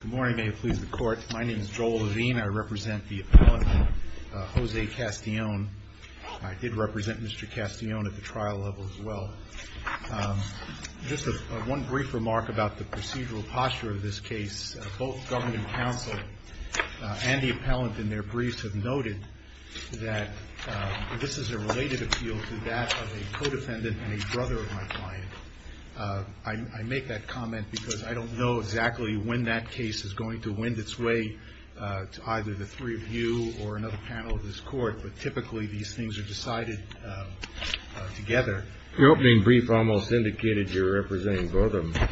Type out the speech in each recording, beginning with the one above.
Good morning, may it please the court. My name is Joel Levine. I represent the appellant, Jose Castellon. I did represent Mr. Castellon at the trial level as well. Just one brief remark about the procedural posture of this case. Both government counsel and the appellant in their briefs have noted that this is a related appeal to that of a co-defendant and a brother of my client. I make that comment because I don't know exactly when that case is going to wind its way to either the three of you or another panel of this court, but typically these things are decided together. Your opening brief almost indicated you're representing both of them.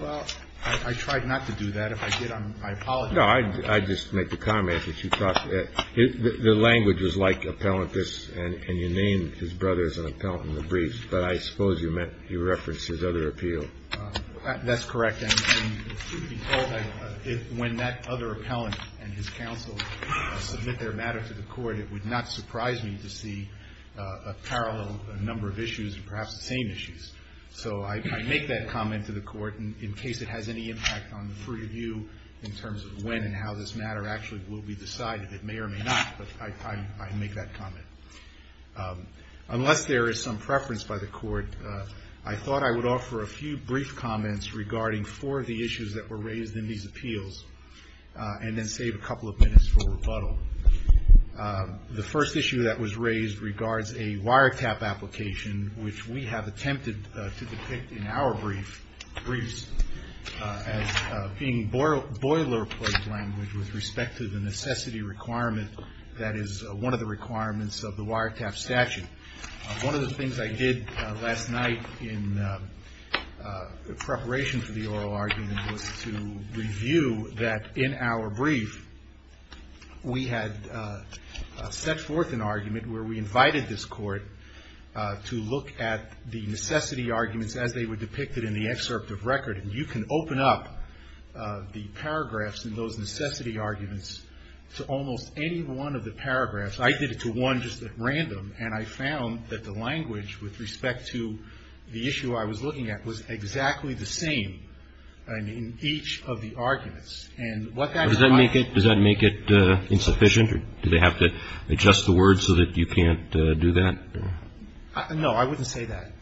Well, I tried not to do that. If I did, I apologize. No, I just make the comment that you thought the language was like appellant this and you named his brother as an appellant in the briefs, but I suppose you meant you referenced his other appeal. That's correct. And when that other appellant and his counsel submit their matter to the court, it would not surprise me to see a parallel number of issues and perhaps the same issues. So I make that comment to the court in case it has any impact on the three of you in terms of when and how this matter actually will be decided. It may or may not, but I make that comment. Unless there is some preference by the court, I thought I would offer a few brief comments regarding four of the issues that were raised in these appeals and then save a couple of minutes for rebuttal. The first issue that was raised regards a wiretap application, which we have attempted to depict in our briefs as being boilerplate language with respect to the necessity requirement that is one of the requirements of the wiretap statute. One of the things I did last night in preparation for the oral argument was to review that in our brief, we had set forth an argument where we invited this court to look at the necessity arguments as they were depicted in the excerpt of record. And you can open up the paragraphs in those necessity arguments to almost any one of the paragraphs. I did it to one just at random, and I found that the language with respect to the issue I was looking at was exactly the same in each of the arguments. And what that is why — Does that make it insufficient? Do they have to adjust the words so that you can't do that? No, I wouldn't say that.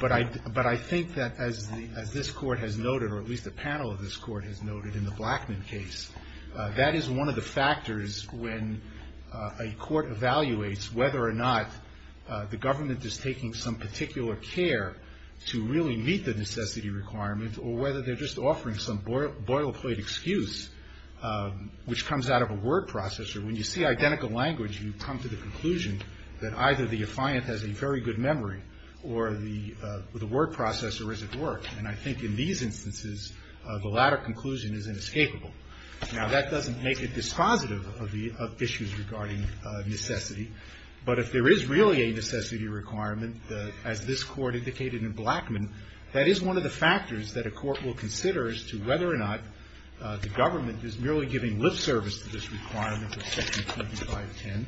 But I think that as this court has noted, or at least a panel of this court has noted in the Blackman case, that is one of the factors when a court evaluates whether or not the government is taking some particular care to really meet the necessity requirement or whether they're just offering some boilerplate excuse, which comes out of a word processor. When you see identical language, you come to the conclusion that either the affiant has a very good memory or the word processor isn't working. And I think in these instances, the latter conclusion is inescapable. Now, that doesn't make it dispositive of the — of issues regarding necessity. But if there is really a necessity requirement, as this court indicated in Blackman, that is one of the factors that a court will consider as to whether or not the government is merely giving lip service to this requirement of Section 2510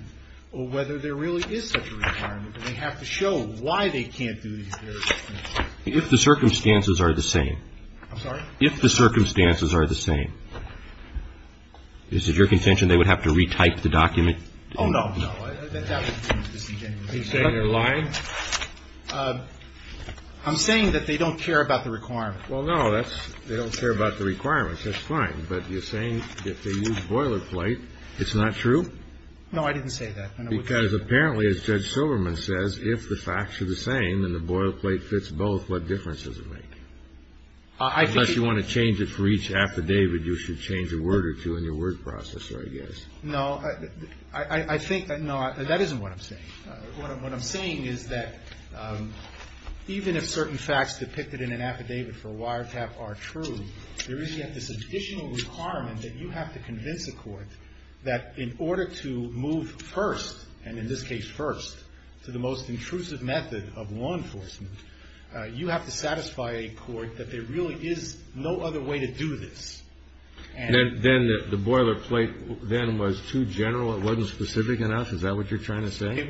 or whether there really is such a requirement. And they have to show why they can't do these various necessities. If the circumstances are the same. I'm sorry? If the circumstances are the same. Is it your contention they would have to retype the document? Oh, no, no. That would be a misdemeanor. Are you saying they're lying? I'm saying that they don't care about the requirement. Well, no, that's — they don't care about the requirement. That's fine. But you're saying if they use boilerplate, it's not true? No, I didn't say that. Because apparently, as Judge Silverman says, if the facts are the same and the boilerplate fits both, what difference does it make? Unless you want to change it for each affidavit, you should change a word or two in your word processor, I guess. No, I think that — no, that isn't what I'm saying. What I'm saying is that even if certain facts depicted in an affidavit for a wiretap are true, there is yet this additional requirement that you have to convince a court that in order to move first, and in this case first, to the most intrusive method of law enforcement, you have to satisfy a court that there really is no other way to do this. Then the boilerplate then was too general? It wasn't specific enough? Is that what you're trying to say?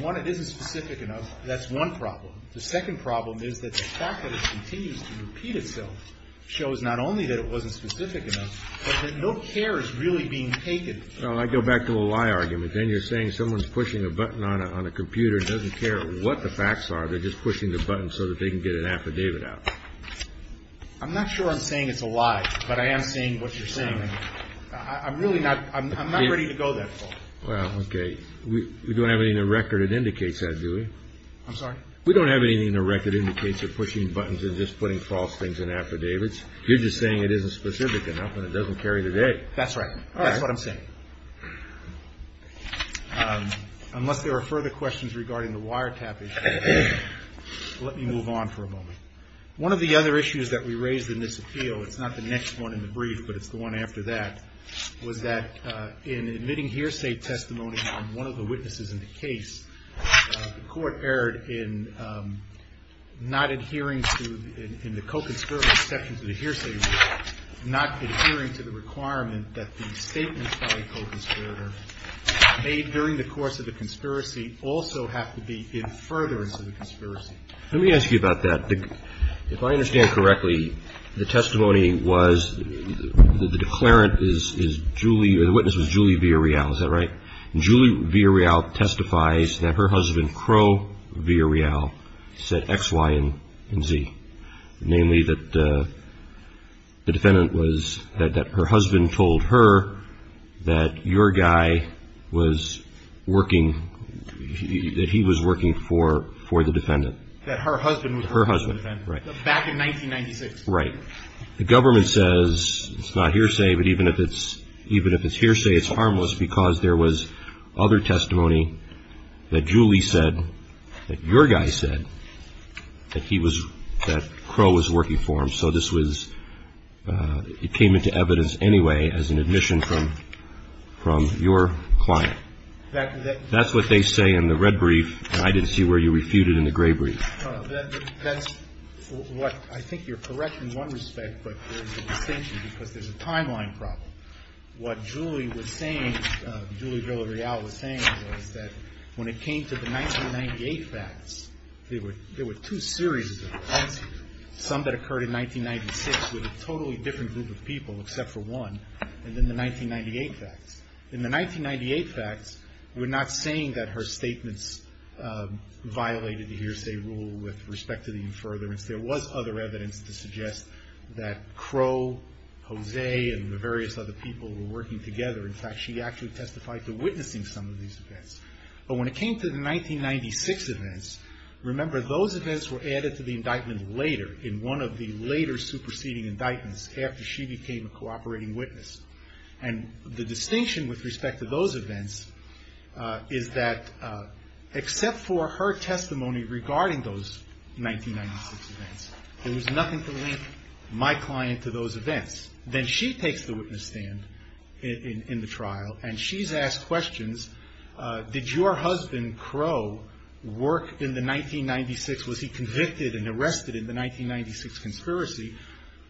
One, it isn't specific enough. That's one problem. The second problem is that the fact that it continues to repeat itself shows not only that it wasn't specific enough, but that no care is really being taken. Well, I go back to the lie argument. Then you're saying someone's pushing a button on a computer and doesn't care what the facts are. They're just pushing the button so that they can get an affidavit out. I'm not sure I'm saying it's a lie, but I am saying what you're saying. I'm really not — I'm not ready to go that far. Well, okay. We don't have anything in the record that indicates that, do we? I'm sorry? We don't have anything in the record that indicates that pushing buttons and just putting false things in affidavits. You're just saying it isn't specific enough and it doesn't carry the day. That's right. That's what I'm saying. Unless there are further questions regarding the wiretap issue, let me move on for a moment. One of the other issues that we raised in this appeal — it's not the next one in the brief, but it's the one after that — was that in admitting hearsay testimony on one of the witnesses in the case, the court erred in not adhering to — in the co-conspiracy section to the hearsay rule, not adhering to the requirement that the statements by a co-conspirator made during the course of the conspiracy also have to be in furtherance of the conspiracy. Let me ask you about that. If I understand correctly, the testimony was — the declarant is Julie — the witness was Julie Villarreal. Is that right? Julie Villarreal testifies that her husband, Crow Villarreal, said X, Y, and Z, namely that the defendant was — that her husband told her that your guy was working — that he was working for the defendant. That her husband was working for the defendant. Right. Back in 1996. Right. The government says it's not hearsay, but even if it's hearsay, it's harmless because there was other testimony that Julie said, that your guy said that he was — that Crow was working for him. So this was — it came into evidence anyway as an admission from your client. That's what they say in the red brief, and I didn't see where you refuted in the gray brief. That's what — I think you're correct in one respect, but there's a distinction because there's a timeline problem. What Julie was saying — Julie Villarreal was saying was that when it came to the 1998 facts, there were two series of reports, some that occurred in 1996 with a totally different group of people except for one, and then the 1998 facts. In the 1998 facts, we're not saying that her statements violated the hearsay rule with respect to the infurbiance. There was other evidence to suggest that Crow, Jose, and the various other people were working together. In fact, she actually testified to witnessing some of these events. But when it came to the 1996 events, remember those events were added to the indictment later, in one of the later superseding indictments after she became a cooperating witness. And the distinction with respect to those events is that except for her testimony regarding those 1996 events, there was nothing to link my client to those events. Then she takes the witness stand in the trial, and she's asked questions. Did your husband Crow work in the 1996 — was he convicted and arrested in the 1996 conspiracy?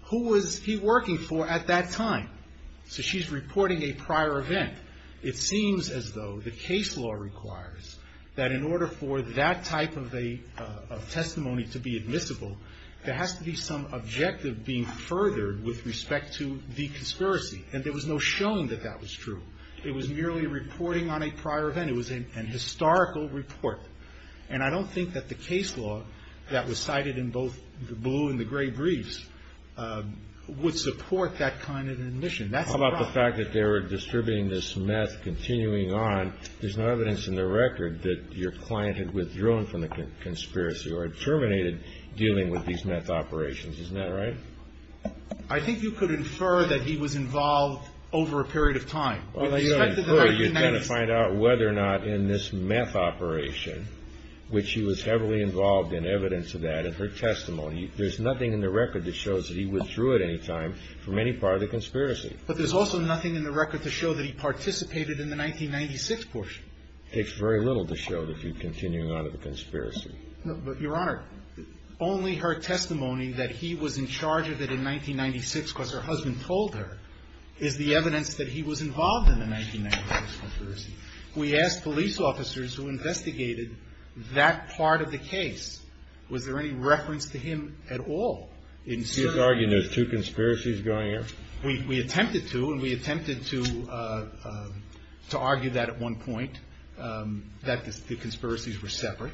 Who was he working for at that time? So she's reporting a prior event. It seems as though the case law requires that in order for that type of a testimony to be admissible, there has to be some objective being furthered with respect to the conspiracy. And there was no showing that that was true. It was merely reporting on a prior event. It was an historical report. And I don't think that the case law that was cited in both the blue and the gray briefs would support that kind of admission. That's a problem. How about the fact that they were distributing this meth continuing on? There's no evidence in the record that your client had withdrawn from the conspiracy or had terminated dealing with these meth operations. Isn't that right? I think you could infer that he was involved over a period of time. Well, you don't infer. You're trying to find out whether or not in this meth operation, which he was heavily involved in, evidence of that, in her testimony, there's nothing in the record that shows that he withdrew at any time from any part of the conspiracy. But there's also nothing in the record to show that he participated in the 1996 portion. It takes very little to show that he continued on in the conspiracy. But, Your Honor, only her testimony that he was in charge of it in 1996 because her husband told her is the evidence that he was involved in the 1996 conspiracy. We asked police officers who investigated that part of the case, was there any reference to him at all? You're arguing there's two conspiracies going on? We attempted to, and we attempted to argue that at one point, that the conspiracies were separate.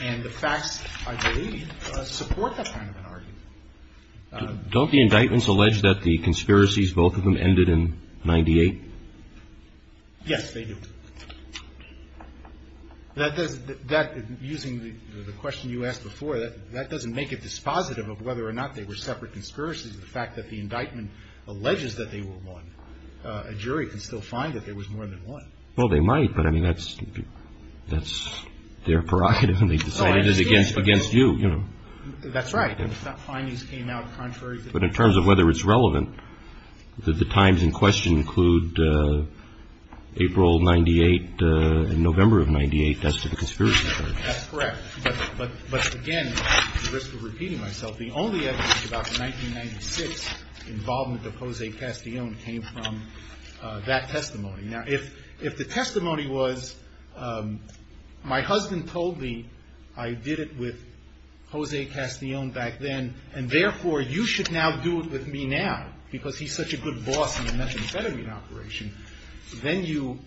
And the facts, I believe, support that kind of an argument. Don't the indictments allege that the conspiracies, both of them, ended in 98? Yes, they do. Using the question you asked before, that doesn't make it dispositive of whether or not they were separate conspiracies. The fact that the indictment alleges that they were one, a jury can still find that there was more than one. Well, they might, but, I mean, that's their prerogative, and they decide it is against you, you know. That's right. But in terms of whether it's relevant, did the times in question include April 98 and November of 98 as to the conspiracy? That's correct. But, again, at the risk of repeating myself, the only evidence about the 1996 involvement of Jose Castillon came from that testimony. Now, if the testimony was, my husband told me I did it with Jose Castillon back then, and, therefore, you should now do it with me now, because he's such a good boss in the methamphetamine operation, then you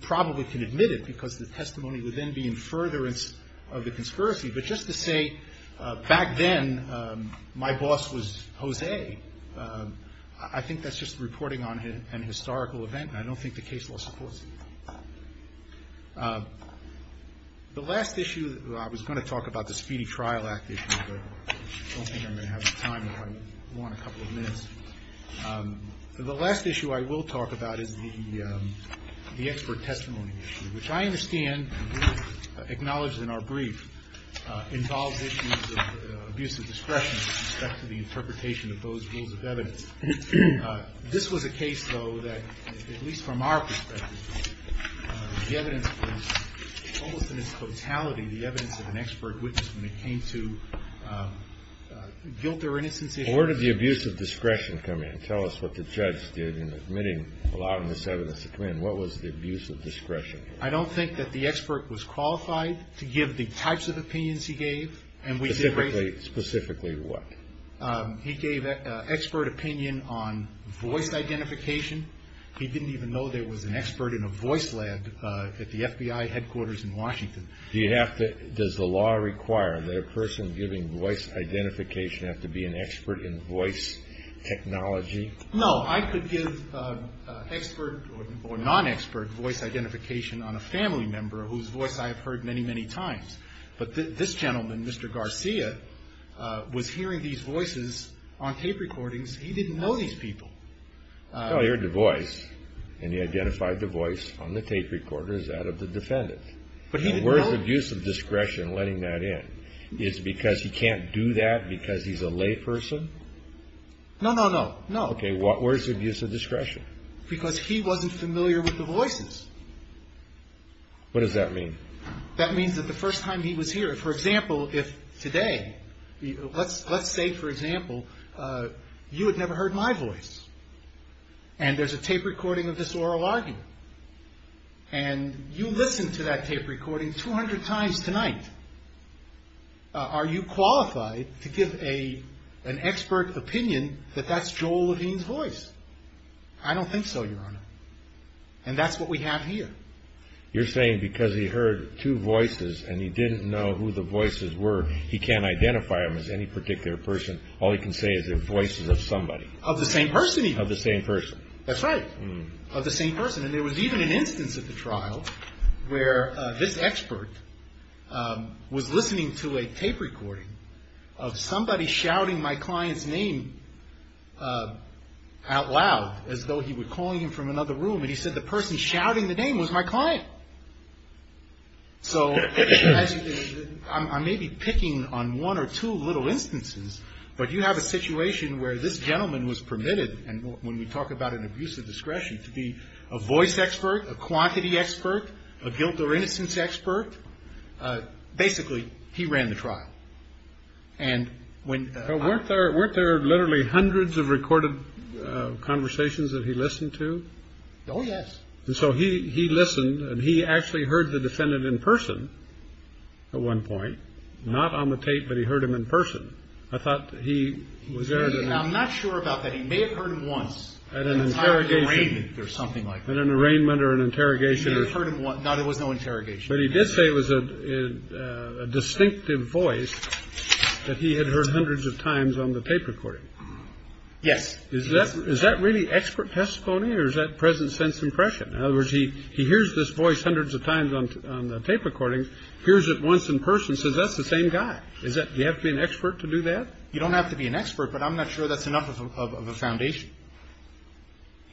probably can admit it, because the testimony would then be in furtherance of the conspiracy. But just to say, back then, my boss was Jose, I think that's just reporting on an historical event. I don't think the case law supports it. The last issue, I was going to talk about the Speedy Trial Act issue, but I don't think I'm going to have the time if I want a couple of minutes. The last issue I will talk about is the expert testimony issue, which I understand, and we've acknowledged in our brief, involves issues of abuse of discretion with respect to the interpretation of those rules of evidence. This was a case, though, that, at least from our perspective, the evidence was almost in its totality the evidence of an expert witness when it came to guilt or innocence issues. Where did the abuse of discretion come in? Tell us what the judge did in admitting, allowing this evidence to come in. What was the abuse of discretion? I don't think that the expert was qualified to give the types of opinions he gave. Specifically what? He gave expert opinion on voice identification. He didn't even know there was an expert in a voice lab at the FBI headquarters in Washington. Does the law require that a person giving voice identification have to be an expert in voice technology? No. I could give expert or non-expert voice identification on a family member whose voice I have heard many, many times. But this gentleman, Mr. Garcia, was hearing these voices on tape recordings. He didn't know these people. Well, he heard the voice, and he identified the voice on the tape recorder as that of the defendant. But he didn't know? And where is the abuse of discretion in letting that in? Is it because he can't do that because he's a lay person? No, no, no. Okay. Where is the abuse of discretion? Because he wasn't familiar with the voices. What does that mean? That means that the first time he was here, for example, if today, let's say, for example, you had never heard my voice, and there's a tape recording of this oral argument, and you listened to that tape recording 200 times tonight, are you qualified to give an expert opinion that that's Joel Levine's voice? I don't think so, Your Honor. And that's what we have here. You're saying because he heard two voices and he didn't know who the voices were, he can't identify them as any particular person. All he can say is they're voices of somebody. Of the same person. Of the same person. That's right, of the same person. And there was even an instance at the trial where this expert was listening to a tape recording of somebody shouting my client's name out loud, as though he were calling him from another room. And he said the person shouting the name was my client. So I may be picking on one or two little instances, but you have a situation where this gentleman was permitted, and when we talk about an abuse of discretion, to be a voice expert, a quantity expert, a guilt or innocence expert. Basically, he ran the trial. And when weren't there, weren't there literally hundreds of recorded conversations that he listened to? Oh, yes. So he he listened and he actually heard the defendant in person. At one point, not on the tape, but he heard him in person. I thought he was there. And I'm not sure about that. He may have heard him once at an interrogation or something like that, an arraignment or an interrogation. No interrogation. But he did say it was a distinctive voice that he had heard hundreds of times on the tape recording. Yes. Is that is that really expert testimony or is that present sense impression? In other words, he he hears this voice hundreds of times on the tape recording. Here's it once in person. So that's the same guy. Is that you have to be an expert to do that? You don't have to be an expert, but I'm not sure that's enough of a foundation.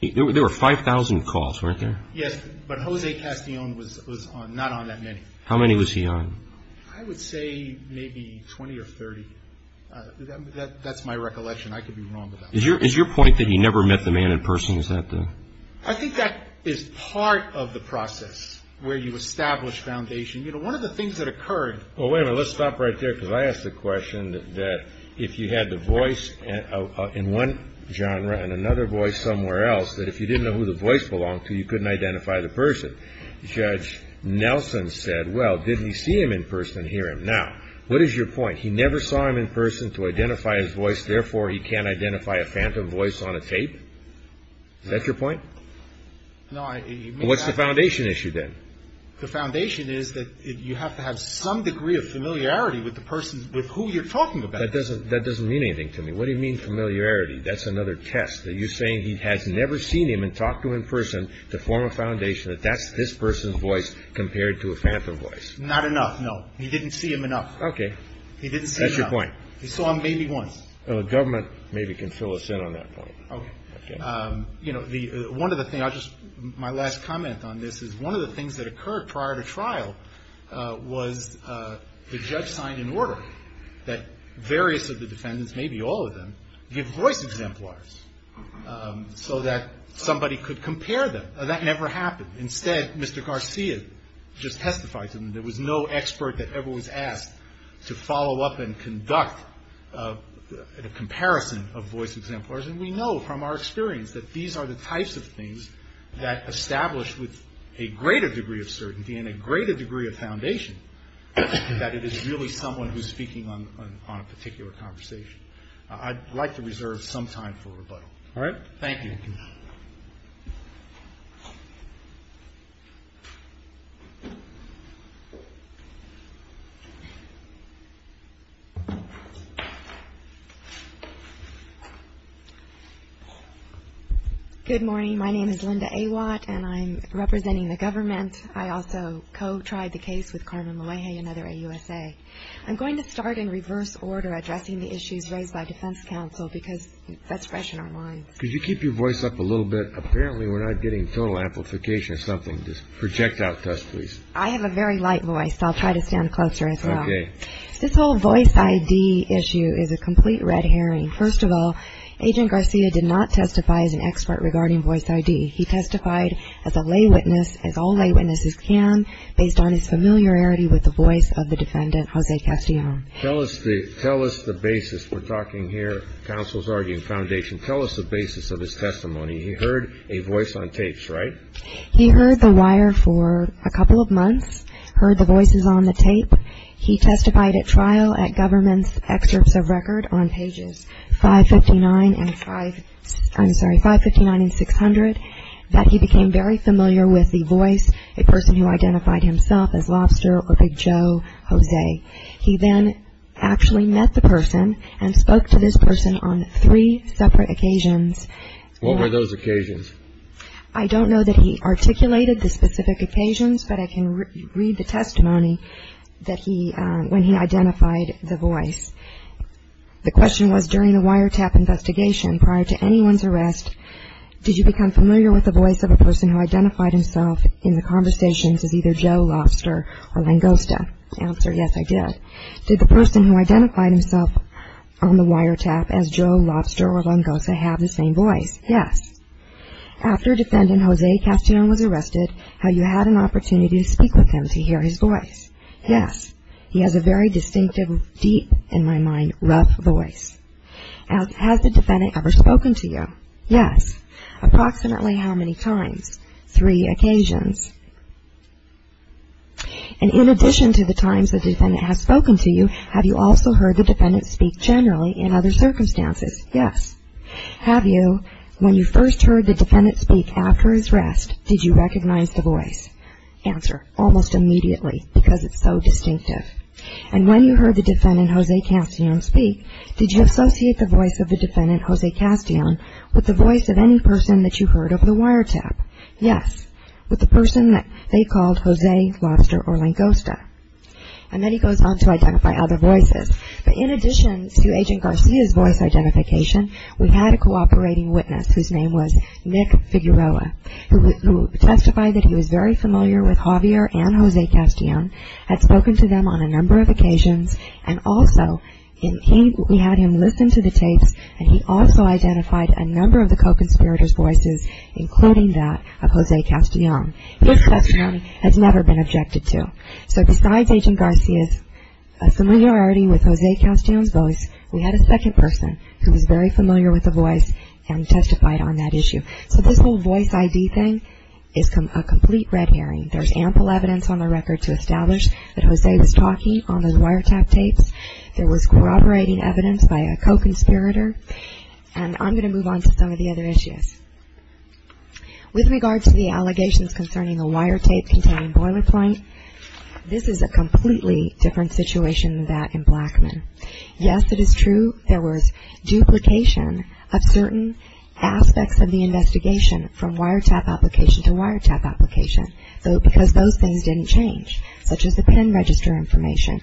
There were five thousand calls, weren't there? Yes. But Jose Castillon was not on that many. How many was he on? I would say maybe 20 or 30. That's my recollection. I could be wrong. Is your is your point that he never met the man in person? Is that the I think that is part of the process where you establish foundation. You know, one of the things that occurred. Well, let's stop right there, because I ask the question that if you had the voice in one genre and another voice somewhere else, that if you didn't know who the voice belonged to, you couldn't identify the person. Judge Nelson said, well, didn't he see him in person here? Now, what is your point? He never saw him in person to identify his voice. Therefore, he can't identify a phantom voice on a tape. That's your point. What's the foundation issue, then? The foundation is that you have to have some degree of familiarity with the person with who you're talking about. That doesn't that doesn't mean anything to me. What do you mean familiarity? That's another test that you're saying he has never seen him and talked to in person to form a foundation that that's this person's voice compared to a phantom voice. Not enough. No, he didn't see him enough. OK. He didn't see your point. So I'm maybe one of the government maybe can fill us in on that point. You know, one of the things I just my last comment on this is one of the things that occurred prior to trial was the judge signed an order that various of the defendants, maybe all of them, give voice exemplars so that somebody could compare them. That never happened. Instead, Mr. Garcia just testified to them. There was no expert that ever was asked to follow up and conduct a comparison of voice exemplars. And we know from our experience that these are the types of things that establish with a greater degree of certainty and a greater degree of foundation that it is really someone who's speaking on a particular conversation. I'd like to reserve some time for rebuttal. All right. Thank you. Good morning. My name is Linda A. Watt and I'm representing the government. I also co-tried the case with Carmen Luege, another AUSA. I'm going to start in reverse order addressing the issues raised by defense counsel because that's fresh in our minds. Could you keep your voice up a little bit? Apparently, we're not getting total amplification or something. Just project out to us, please. I have a very light voice. I'll try to stand closer. This whole voice ID issue is a complete red herring. First of all, Agent Garcia did not testify as an expert regarding voice ID. He testified as a lay witness, as all lay witnesses can, based on his familiarity with the voice of the defendant, Jose Castillo. Tell us the basis. We're talking here, counsel's arguing foundation. Tell us the basis of his testimony. He heard a voice on tapes, right? He heard the wire for a couple of months, heard the voices on the tape. He testified at trial at government's excerpts of record on pages 559 and 500, I'm sorry, 559 and 600, that he became very familiar with the voice, a person who identified himself as Lobster or Big Joe Jose. He then actually met the person and spoke to this person on three separate occasions. What were those occasions? I don't know that he articulated the specific occasions, but I can read the testimony that he, when he identified the voice. The question was, during the wiretap investigation, prior to anyone's arrest, did you become familiar with the voice of a person who identified himself in the conversations as either Joe Lobster or Langosta? Answer, yes, I did. Did the person who identified himself on the wiretap as Joe Lobster or Langosta have the same voice? Yes. After defendant Jose Castillo was arrested, have you had an opportunity to speak with him to hear his voice? Yes. He has a very distinctive, deep in my mind, rough voice. Has the defendant ever spoken to you? Yes. Approximately how many times? Three occasions. And in addition to the times the defendant has spoken to you, have you also heard the defendant speak generally in other circumstances? Yes. Have you, when you first heard the defendant speak after his arrest, did you recognize the voice? Answer, almost immediately, because it's so distinctive. And when you heard the defendant Jose Castillo speak, did you associate the voice of the defendant Jose Castillo with the voice of any person that you heard over the wiretap? Yes. With the person that they called Jose Lobster or Langosta. And then he goes on to identify other voices. But in addition to Agent Garcia's voice identification, we had a cooperating witness whose name was Nick Figueroa, who testified that he was very familiar with Javier and Jose Castillo, had spoken to them on a number of occasions, and also we had him listen to the tapes, and he also identified a number of the co-conspirators' voices, including that of Jose Castillo. His testimony has never been objected to. So besides Agent Garcia's familiarity with Jose Castillo's voice, we had a second person who was very familiar with the voice and testified on that issue. So this whole voice ID thing is a complete red herring. There's ample evidence on the record to establish that Jose was talking on those wiretap tapes. There was cooperating evidence by a co-conspirator. And I'm going to move on to some of the other issues. With regard to the allegations concerning the wiretape-containing boiler point, this is a completely different situation than that in Blackman. Yes, it is true there was duplication of certain aspects of the investigation from wiretap application to wiretap application, because those things didn't change, such as the pen register information.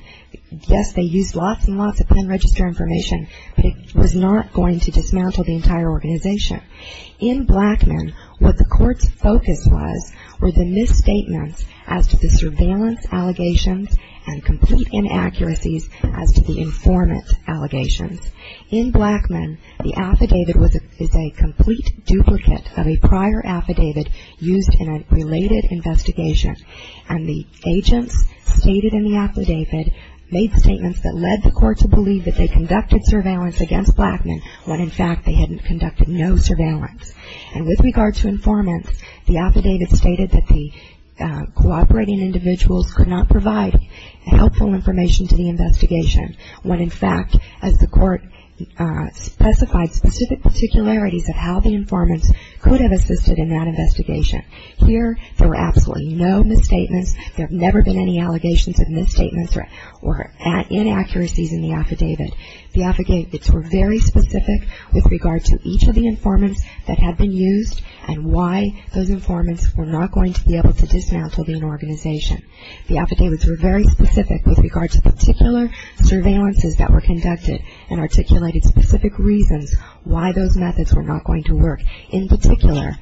Yes, they used lots and lots of pen register information, but it was not going to dismantle the entire organization. In Blackman, what the court's focus was were the misstatements as to the surveillance allegations and complete inaccuracies as to the informant allegations. In Blackman, the affidavit is a complete duplicate of a prior affidavit used in a related investigation, and the agents stated in the affidavit made statements that led the court to believe that they conducted surveillance against Blackman when, in fact, they had conducted no surveillance. And with regard to informants, the affidavit stated that the cooperating individuals could not provide helpful information to the investigation when, in fact, as the court specified, specific particularities of how the informants could have assisted in that investigation. Here, there were absolutely no misstatements. There have never been any allegations of misstatements or inaccuracies in the affidavit. The affidavits were very specific with regard to each of the informants that had been used and why those informants were not going to be able to dismantle the organization. The affidavits were very specific with regard to particular surveillances that were conducted and articulated specific reasons why those methods were not going to work. In particular,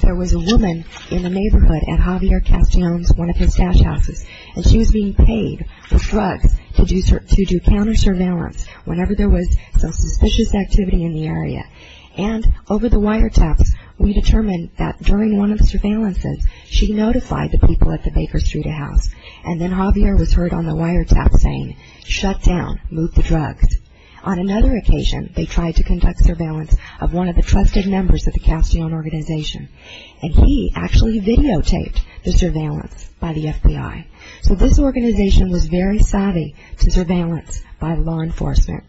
there was a woman in the neighborhood at Javier Castellon's, one of his stash houses, and she was being paid for drugs to do counter-surveillance whenever there was some suspicious activity in the area. And over the wiretaps, we determined that during one of the surveillances, she notified the people at the Baker Street a house, and then Javier was heard on the wiretap saying, shut down, move the drugs. On another occasion, they tried to conduct surveillance of one of the trusted members of the Castellon organization, and he actually videotaped the surveillance by the FBI. So this organization was very savvy to surveillance by law enforcement.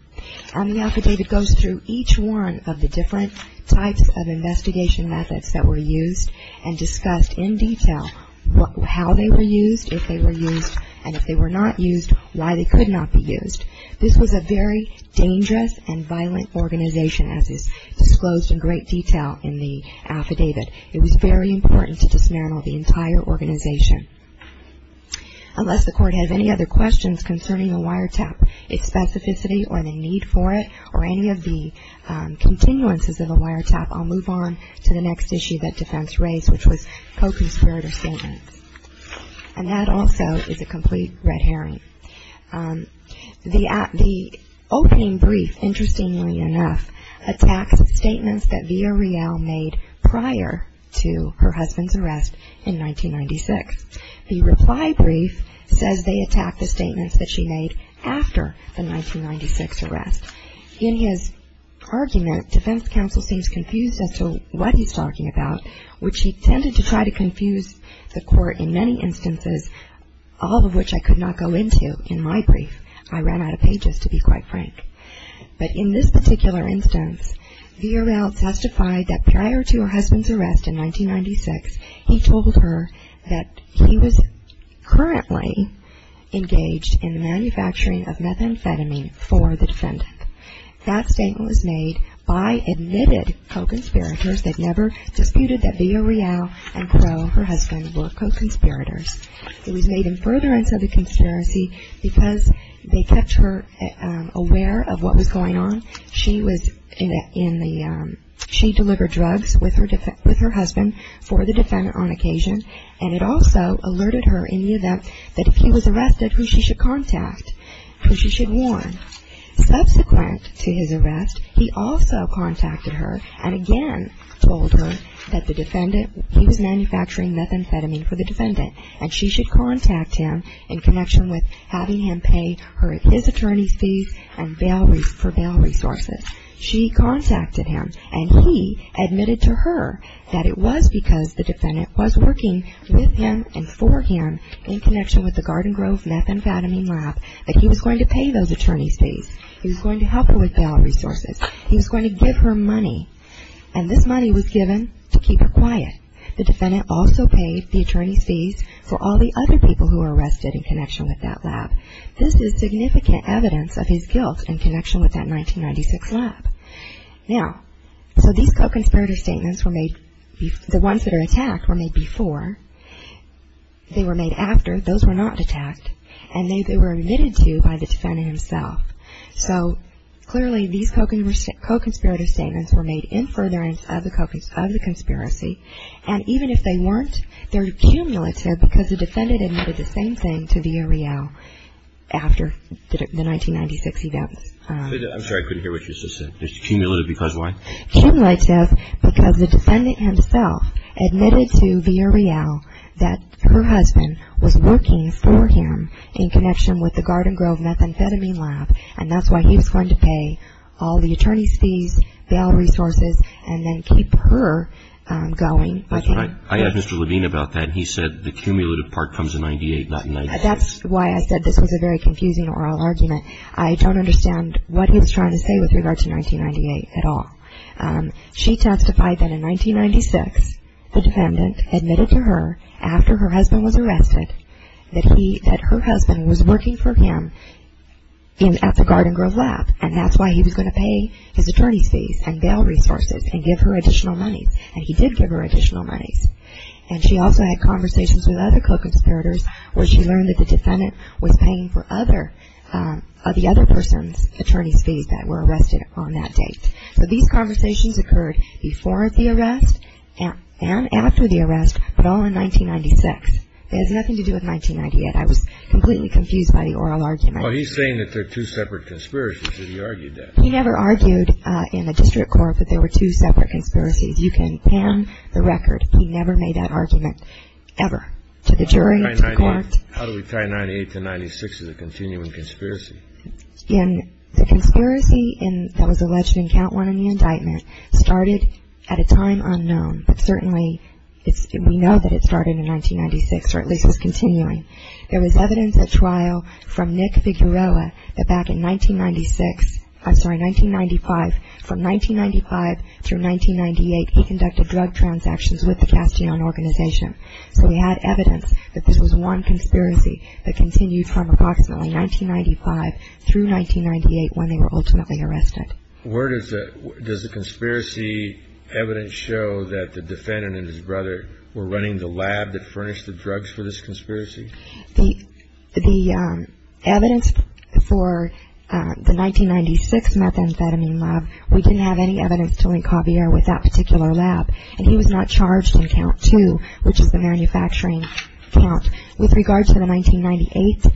And the affidavit goes through each one of the different types of investigation methods that were used and discussed in detail how they were used, if they were used, and if they were not used, why they could not be used. This was a very dangerous and violent organization, as is disclosed in great detail in the affidavit. It was very important to dismantle the entire organization. Unless the Court has any other questions concerning the wiretap, its specificity, or the need for it, or any of the continuances of the wiretap, I'll move on to the next issue that defense raised, which was co-conspirator statements. And that also is a complete red herring. The opening brief, interestingly enough, attacks statements that Villarreal made prior to her husband's arrest in 1996. The reply brief says they attack the statements that she made after the 1996 arrest. In his argument, defense counsel seems confused as to what he's talking about, which he tended to try to confuse the Court in many instances, all of which I could not go into in my brief. I ran out of pages, to be quite frank. But in this particular instance, Villarreal testified that prior to her husband's arrest in 1996, he told her that he was currently engaged in the manufacturing of methamphetamine for the defendant. That statement was made by admitted co-conspirators that never disputed that Villarreal and Crow, her husband, were co-conspirators. It was made in furtherance of the conspiracy because they kept her aware of what was going on. She delivered drugs with her husband for the defendant on occasion, and it also alerted her in the event that if he was arrested, who she should contact, who she should warn. Subsequent to his arrest, he also contacted her and again told her that the defendant, he was manufacturing methamphetamine for the defendant, and she should contact him in connection with having him pay his attorney's fees for bail resources. She contacted him, and he admitted to her that it was because the defendant was working with him and for him in connection with the Garden Grove methamphetamine lab that he was going to pay those attorney's fees. He was going to help her with bail resources. He was going to give her money, and this money was given to keep her quiet. The defendant also paid the attorney's fees for all the other people who were arrested in connection with that lab. This is significant evidence of his guilt in connection with that 1996 lab. Now, so these co-conspirator statements were made, the ones that are attacked were made before. They were made after. Those were not attacked, and they were admitted to by the defendant himself. So clearly these co-conspirator statements were made in furtherance of the conspiracy, and even if they weren't, they're cumulative because the defendant admitted the same thing to Villareal after the 1996 events. I'm sorry, I couldn't hear what you just said. It's cumulative because why? Cumulative because the defendant himself admitted to Villareal that her husband was working for him in connection with the Garden Grove methamphetamine lab, and that's why he was going to pay all the attorney's fees, bail resources, and then keep her going. That's right. I asked Mr. Levine about that, and he said the cumulative part comes in 1998, not 1996. That's why I said this was a very confusing oral argument. I don't understand what he was trying to say with regard to 1998 at all. She testified that in 1996, the defendant admitted to her after her husband was arrested that her husband was working for him at the Garden Grove lab, and that's why he was going to pay his attorney's fees and bail resources and give her additional money, and he did give her additional monies, and she also had conversations with other co-conspirators where she learned that the defendant was paying for the other person's attorney's fees that were arrested on that date. So these conversations occurred before the arrest and after the arrest, but all in 1996. It has nothing to do with 1998. I was completely confused by the oral argument. Well, he's saying that they're two separate conspiracies. He argued that. He never argued in the district court that they were two separate conspiracies. You can pan the record. He never made that argument ever to the jury, to the court. How do we tie 1998 to 1996 as a continuing conspiracy? The conspiracy that was alleged in count one in the indictment started at a time unknown, but certainly we know that it started in 1996 or at least was continuing. There was evidence at trial from Nick Figuerella that back in 1996, I'm sorry, 1995, from 1995 through 1998, he conducted drug transactions with the Castillon organization. So we had evidence that this was one conspiracy that continued from approximately 1995 through 1998 when they were ultimately arrested. Does the conspiracy evidence show that the defendant and his brother were running the lab that furnished the drugs for this conspiracy? The evidence for the 1996 methamphetamine lab, we didn't have any evidence to link Javier with that particular lab, and he was not charged in count two, which is the manufacturing count. With regard to the 1998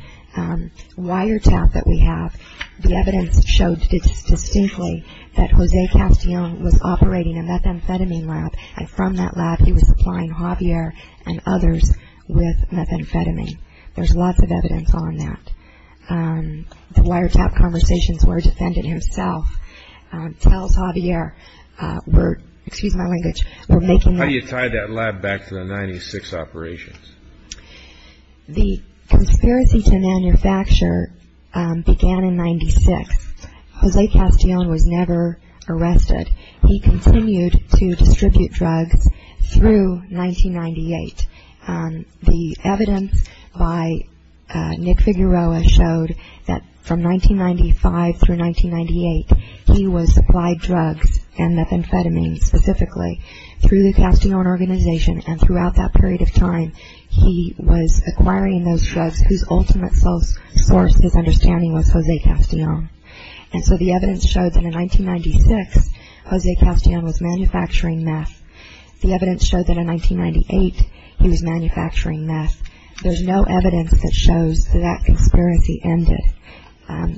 wiretap that we have, the evidence showed distinctly that Jose Castillon was operating a methamphetamine lab, and from that lab he was supplying Javier and others with methamphetamine. There's lots of evidence on that. The wiretap conversations were defended himself. Tell us, Javier, we're making that up. How do you tie that lab back to the 1996 operations? The conspiracy to manufacture began in 1996. Jose Castillon was never arrested. He continued to distribute drugs through 1998. The evidence by Nick Figueroa showed that from 1995 through 1998, he was supplying drugs and methamphetamine specifically through the Castillon Organization, and throughout that period of time he was acquiring those drugs whose ultimate source, his understanding, was Jose Castillon. And so the evidence showed that in 1996, Jose Castillon was manufacturing meth. The evidence showed that in 1998, he was manufacturing meth. There's no evidence that shows that that conspiracy ended.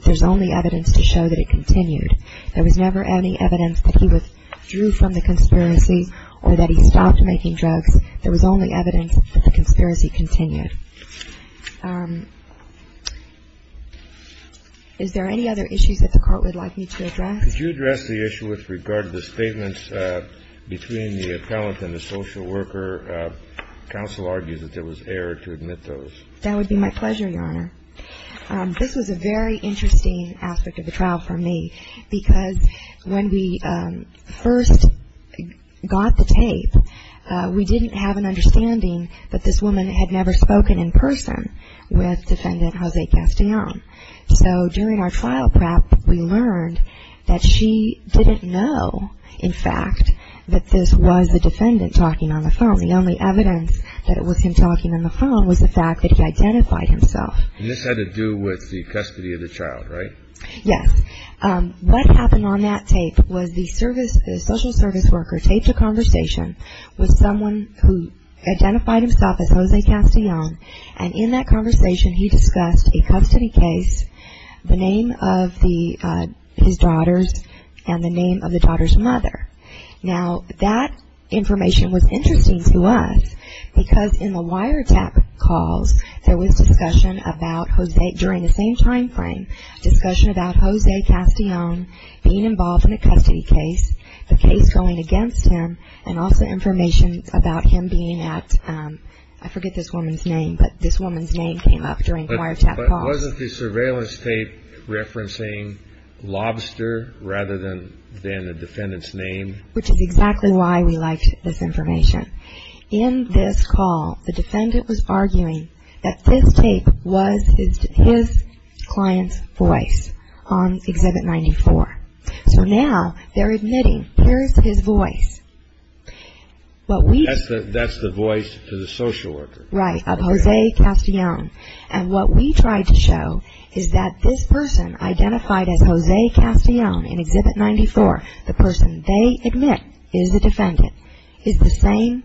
There's only evidence to show that it continued. There was never any evidence that he withdrew from the conspiracy or that he stopped making drugs. There was only evidence that the conspiracy continued. Is there any other issues that the Court would like me to address? Could you address the issue with regard to the statements between the appellant and the social worker? Counsel argues that there was error to admit those. That would be my pleasure, Your Honor. This was a very interesting aspect of the trial for me because when we first got the tape, we didn't have an understanding that this woman had never spoken in person with Defendant Jose Castillon. So during our trial prep, we learned that she didn't know, in fact, that this was the defendant talking on the phone. The only evidence that it was him talking on the phone was the fact that he identified himself. And this had to do with the custody of the child, right? Yes. What happened on that tape was the social service worker taped a conversation with someone who identified himself as Jose Castillon, and in that conversation he discussed a custody case, the name of his daughters, and the name of the daughter's mother. Now, that information was interesting to us because in the wiretap calls, there was discussion about Jose during the same time frame, discussion about Jose Castillon being involved in a custody case, the case going against him, and also information about him being at, I forget this woman's name, but this woman's name came up during the wiretap call. But wasn't the surveillance tape referencing Lobster rather than the defendant's name? Which is exactly why we liked this information. In this call, the defendant was arguing that this tape was his client's voice on Exhibit 94. So now they're admitting here's his voice. That's the voice to the social worker. Right, of Jose Castillon. And what we tried to show is that this person identified as Jose Castillon in Exhibit 94, the person they admit is the defendant, is the same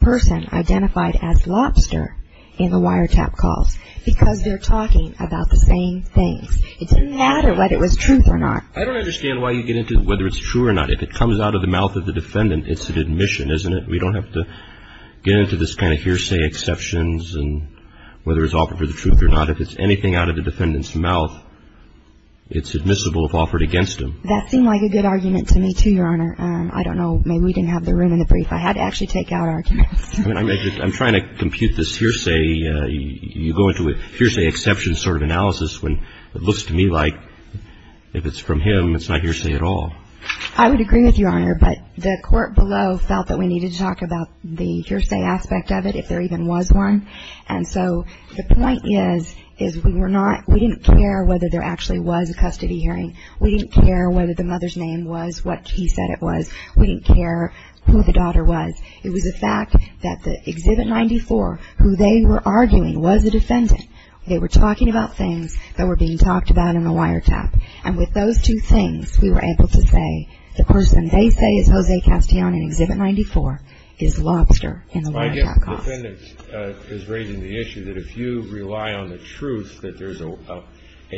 person identified as Lobster in the wiretap calls because they're talking about the same things. It didn't matter whether it was truth or not. I don't understand why you get into whether it's true or not. If it comes out of the mouth of the defendant, it's an admission, isn't it? We don't have to get into this kind of hearsay exceptions and whether it's offered for the truth or not. If it's anything out of the defendant's mouth, it's admissible if offered against him. That seemed like a good argument to me, too, Your Honor. I don't know. Maybe we didn't have the room in the brief. I had to actually take out arguments. I'm trying to compute this hearsay. You go into a hearsay exception sort of analysis when it looks to me like if it's from him, it's not hearsay at all. I would agree with you, Your Honor, but the court below felt that we needed to talk about the hearsay aspect of it if there even was one. And so the point is we didn't care whether there actually was a custody hearing. We didn't care whether the mother's name was what he said it was. We didn't care who the daughter was. It was a fact that the Exhibit 94, who they were arguing was the defendant, they were talking about things that were being talked about in the wiretap. And with those two things, we were able to say the person they say is Jose Castellan in Exhibit 94 is Lobster in the wiretap. I guess the defendant is raising the issue that if you rely on the truth that there's a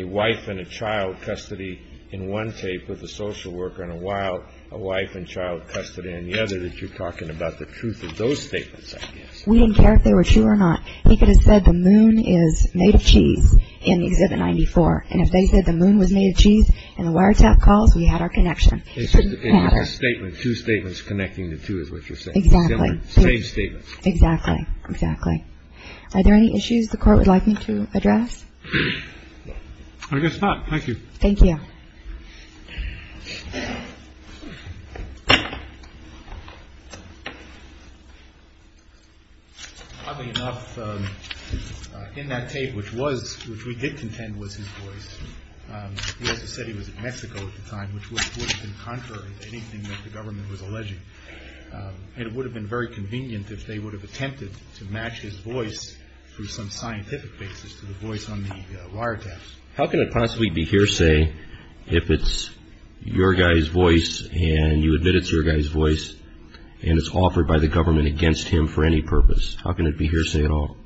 wife and a child custody in one tape with a social worker in a while, a wife and child custody in the other, that you're talking about the truth of those statements, I guess. We didn't care if they were true or not. He could have said the moon is made of cheese in Exhibit 94. And if they said the moon was made of cheese and the wiretap calls, we had our connection. It didn't matter. It's just a statement. Two statements connecting the two is what you're saying. Exactly. Same statements. Exactly. Exactly. Are there any issues the court would like me to address? I guess not. Thank you. Thank you. Oddly enough, in that tape, which we did contend was his voice, he also said he was in Mexico at the time, which would have been contrary to anything that the government was alleging. And it would have been very convenient if they would have attempted to match his voice through some scientific basis to the voice on the wiretap. How can it possibly be hearsay if it's your guy's voice and you admit it's your guy's voice and it's offered by the government against him for any purpose? How can it be hearsay at all?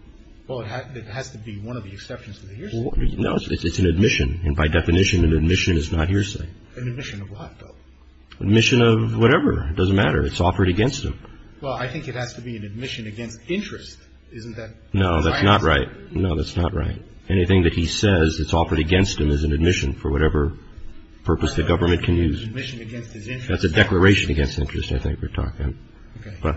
Well, it has to be one of the exceptions to the hearsay. No, it's an admission. And by definition, an admission is not hearsay. An admission of what, though? An admission of whatever. It doesn't matter. It's offered against him. Well, I think it has to be an admission against interest. Isn't that right? No, that's not right. No, that's not right. Anything that he says that's offered against him is an admission for whatever purpose the government can use. It's an admission against his interest. That's a declaration against interest, I think we're talking. Okay. But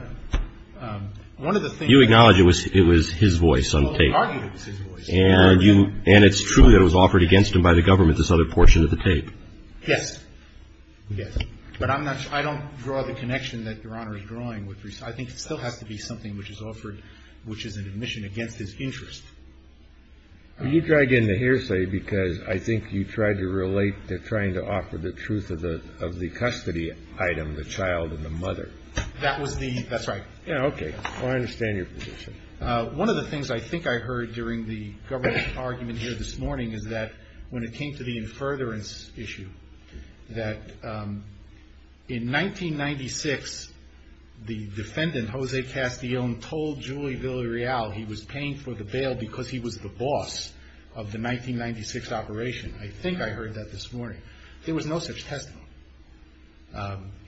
you acknowledge it was his voice on tape. Well, he argued it was his voice. And it's true that it was offered against him by the government, this other portion of the tape. Yes. Yes. But I'm not sure. I don't draw the connection that Your Honor is drawing. I think it still has to be something which is offered, which is an admission against his interest. You dragged in the hearsay because I think you tried to relate to trying to offer the truth of the custody item, the child and the mother. That was the, that's right. Yeah, okay. I understand your position. One of the things I think I heard during the government argument here this morning is that when it came to the in furtherance issue, that in 1996, the defendant, Jose Castillon, told Julie Villarreal he was paying for the bail because he was the boss of the 1996 operation. I think I heard that this morning. There was no such testimony.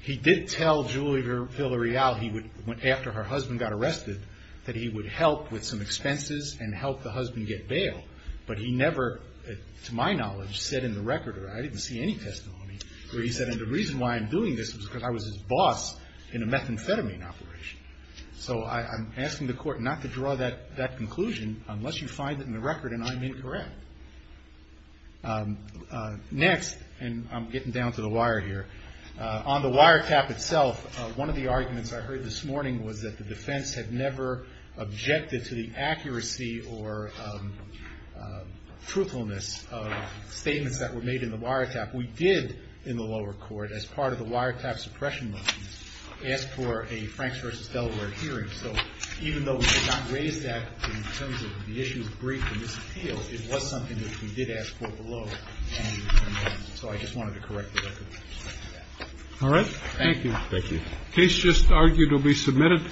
He did tell Julie Villarreal he would, after her husband got arrested, that he would help with some expenses and help the husband get bail. But he never, to my knowledge, said in the record, or I didn't see any testimony, where he said the reason why I'm doing this is because I was his boss in a methamphetamine operation. So I'm asking the court not to draw that conclusion unless you find it in the record and I'm incorrect. Next, and I'm getting down to the wire here. On the wiretap itself, one of the arguments I heard this morning was that the defense had never objected to the accuracy or truthfulness of statements that were made in the wiretap. We did, in the lower court, as part of the wiretap suppression motions, ask for a Franks v. Delaware hearing. So even though we did not raise that in terms of the issue of brief and disappeal, it was something that we did ask for below. And so I just wanted to correct the record. All right. Thank you. Thank you. Case just argued will be submitted.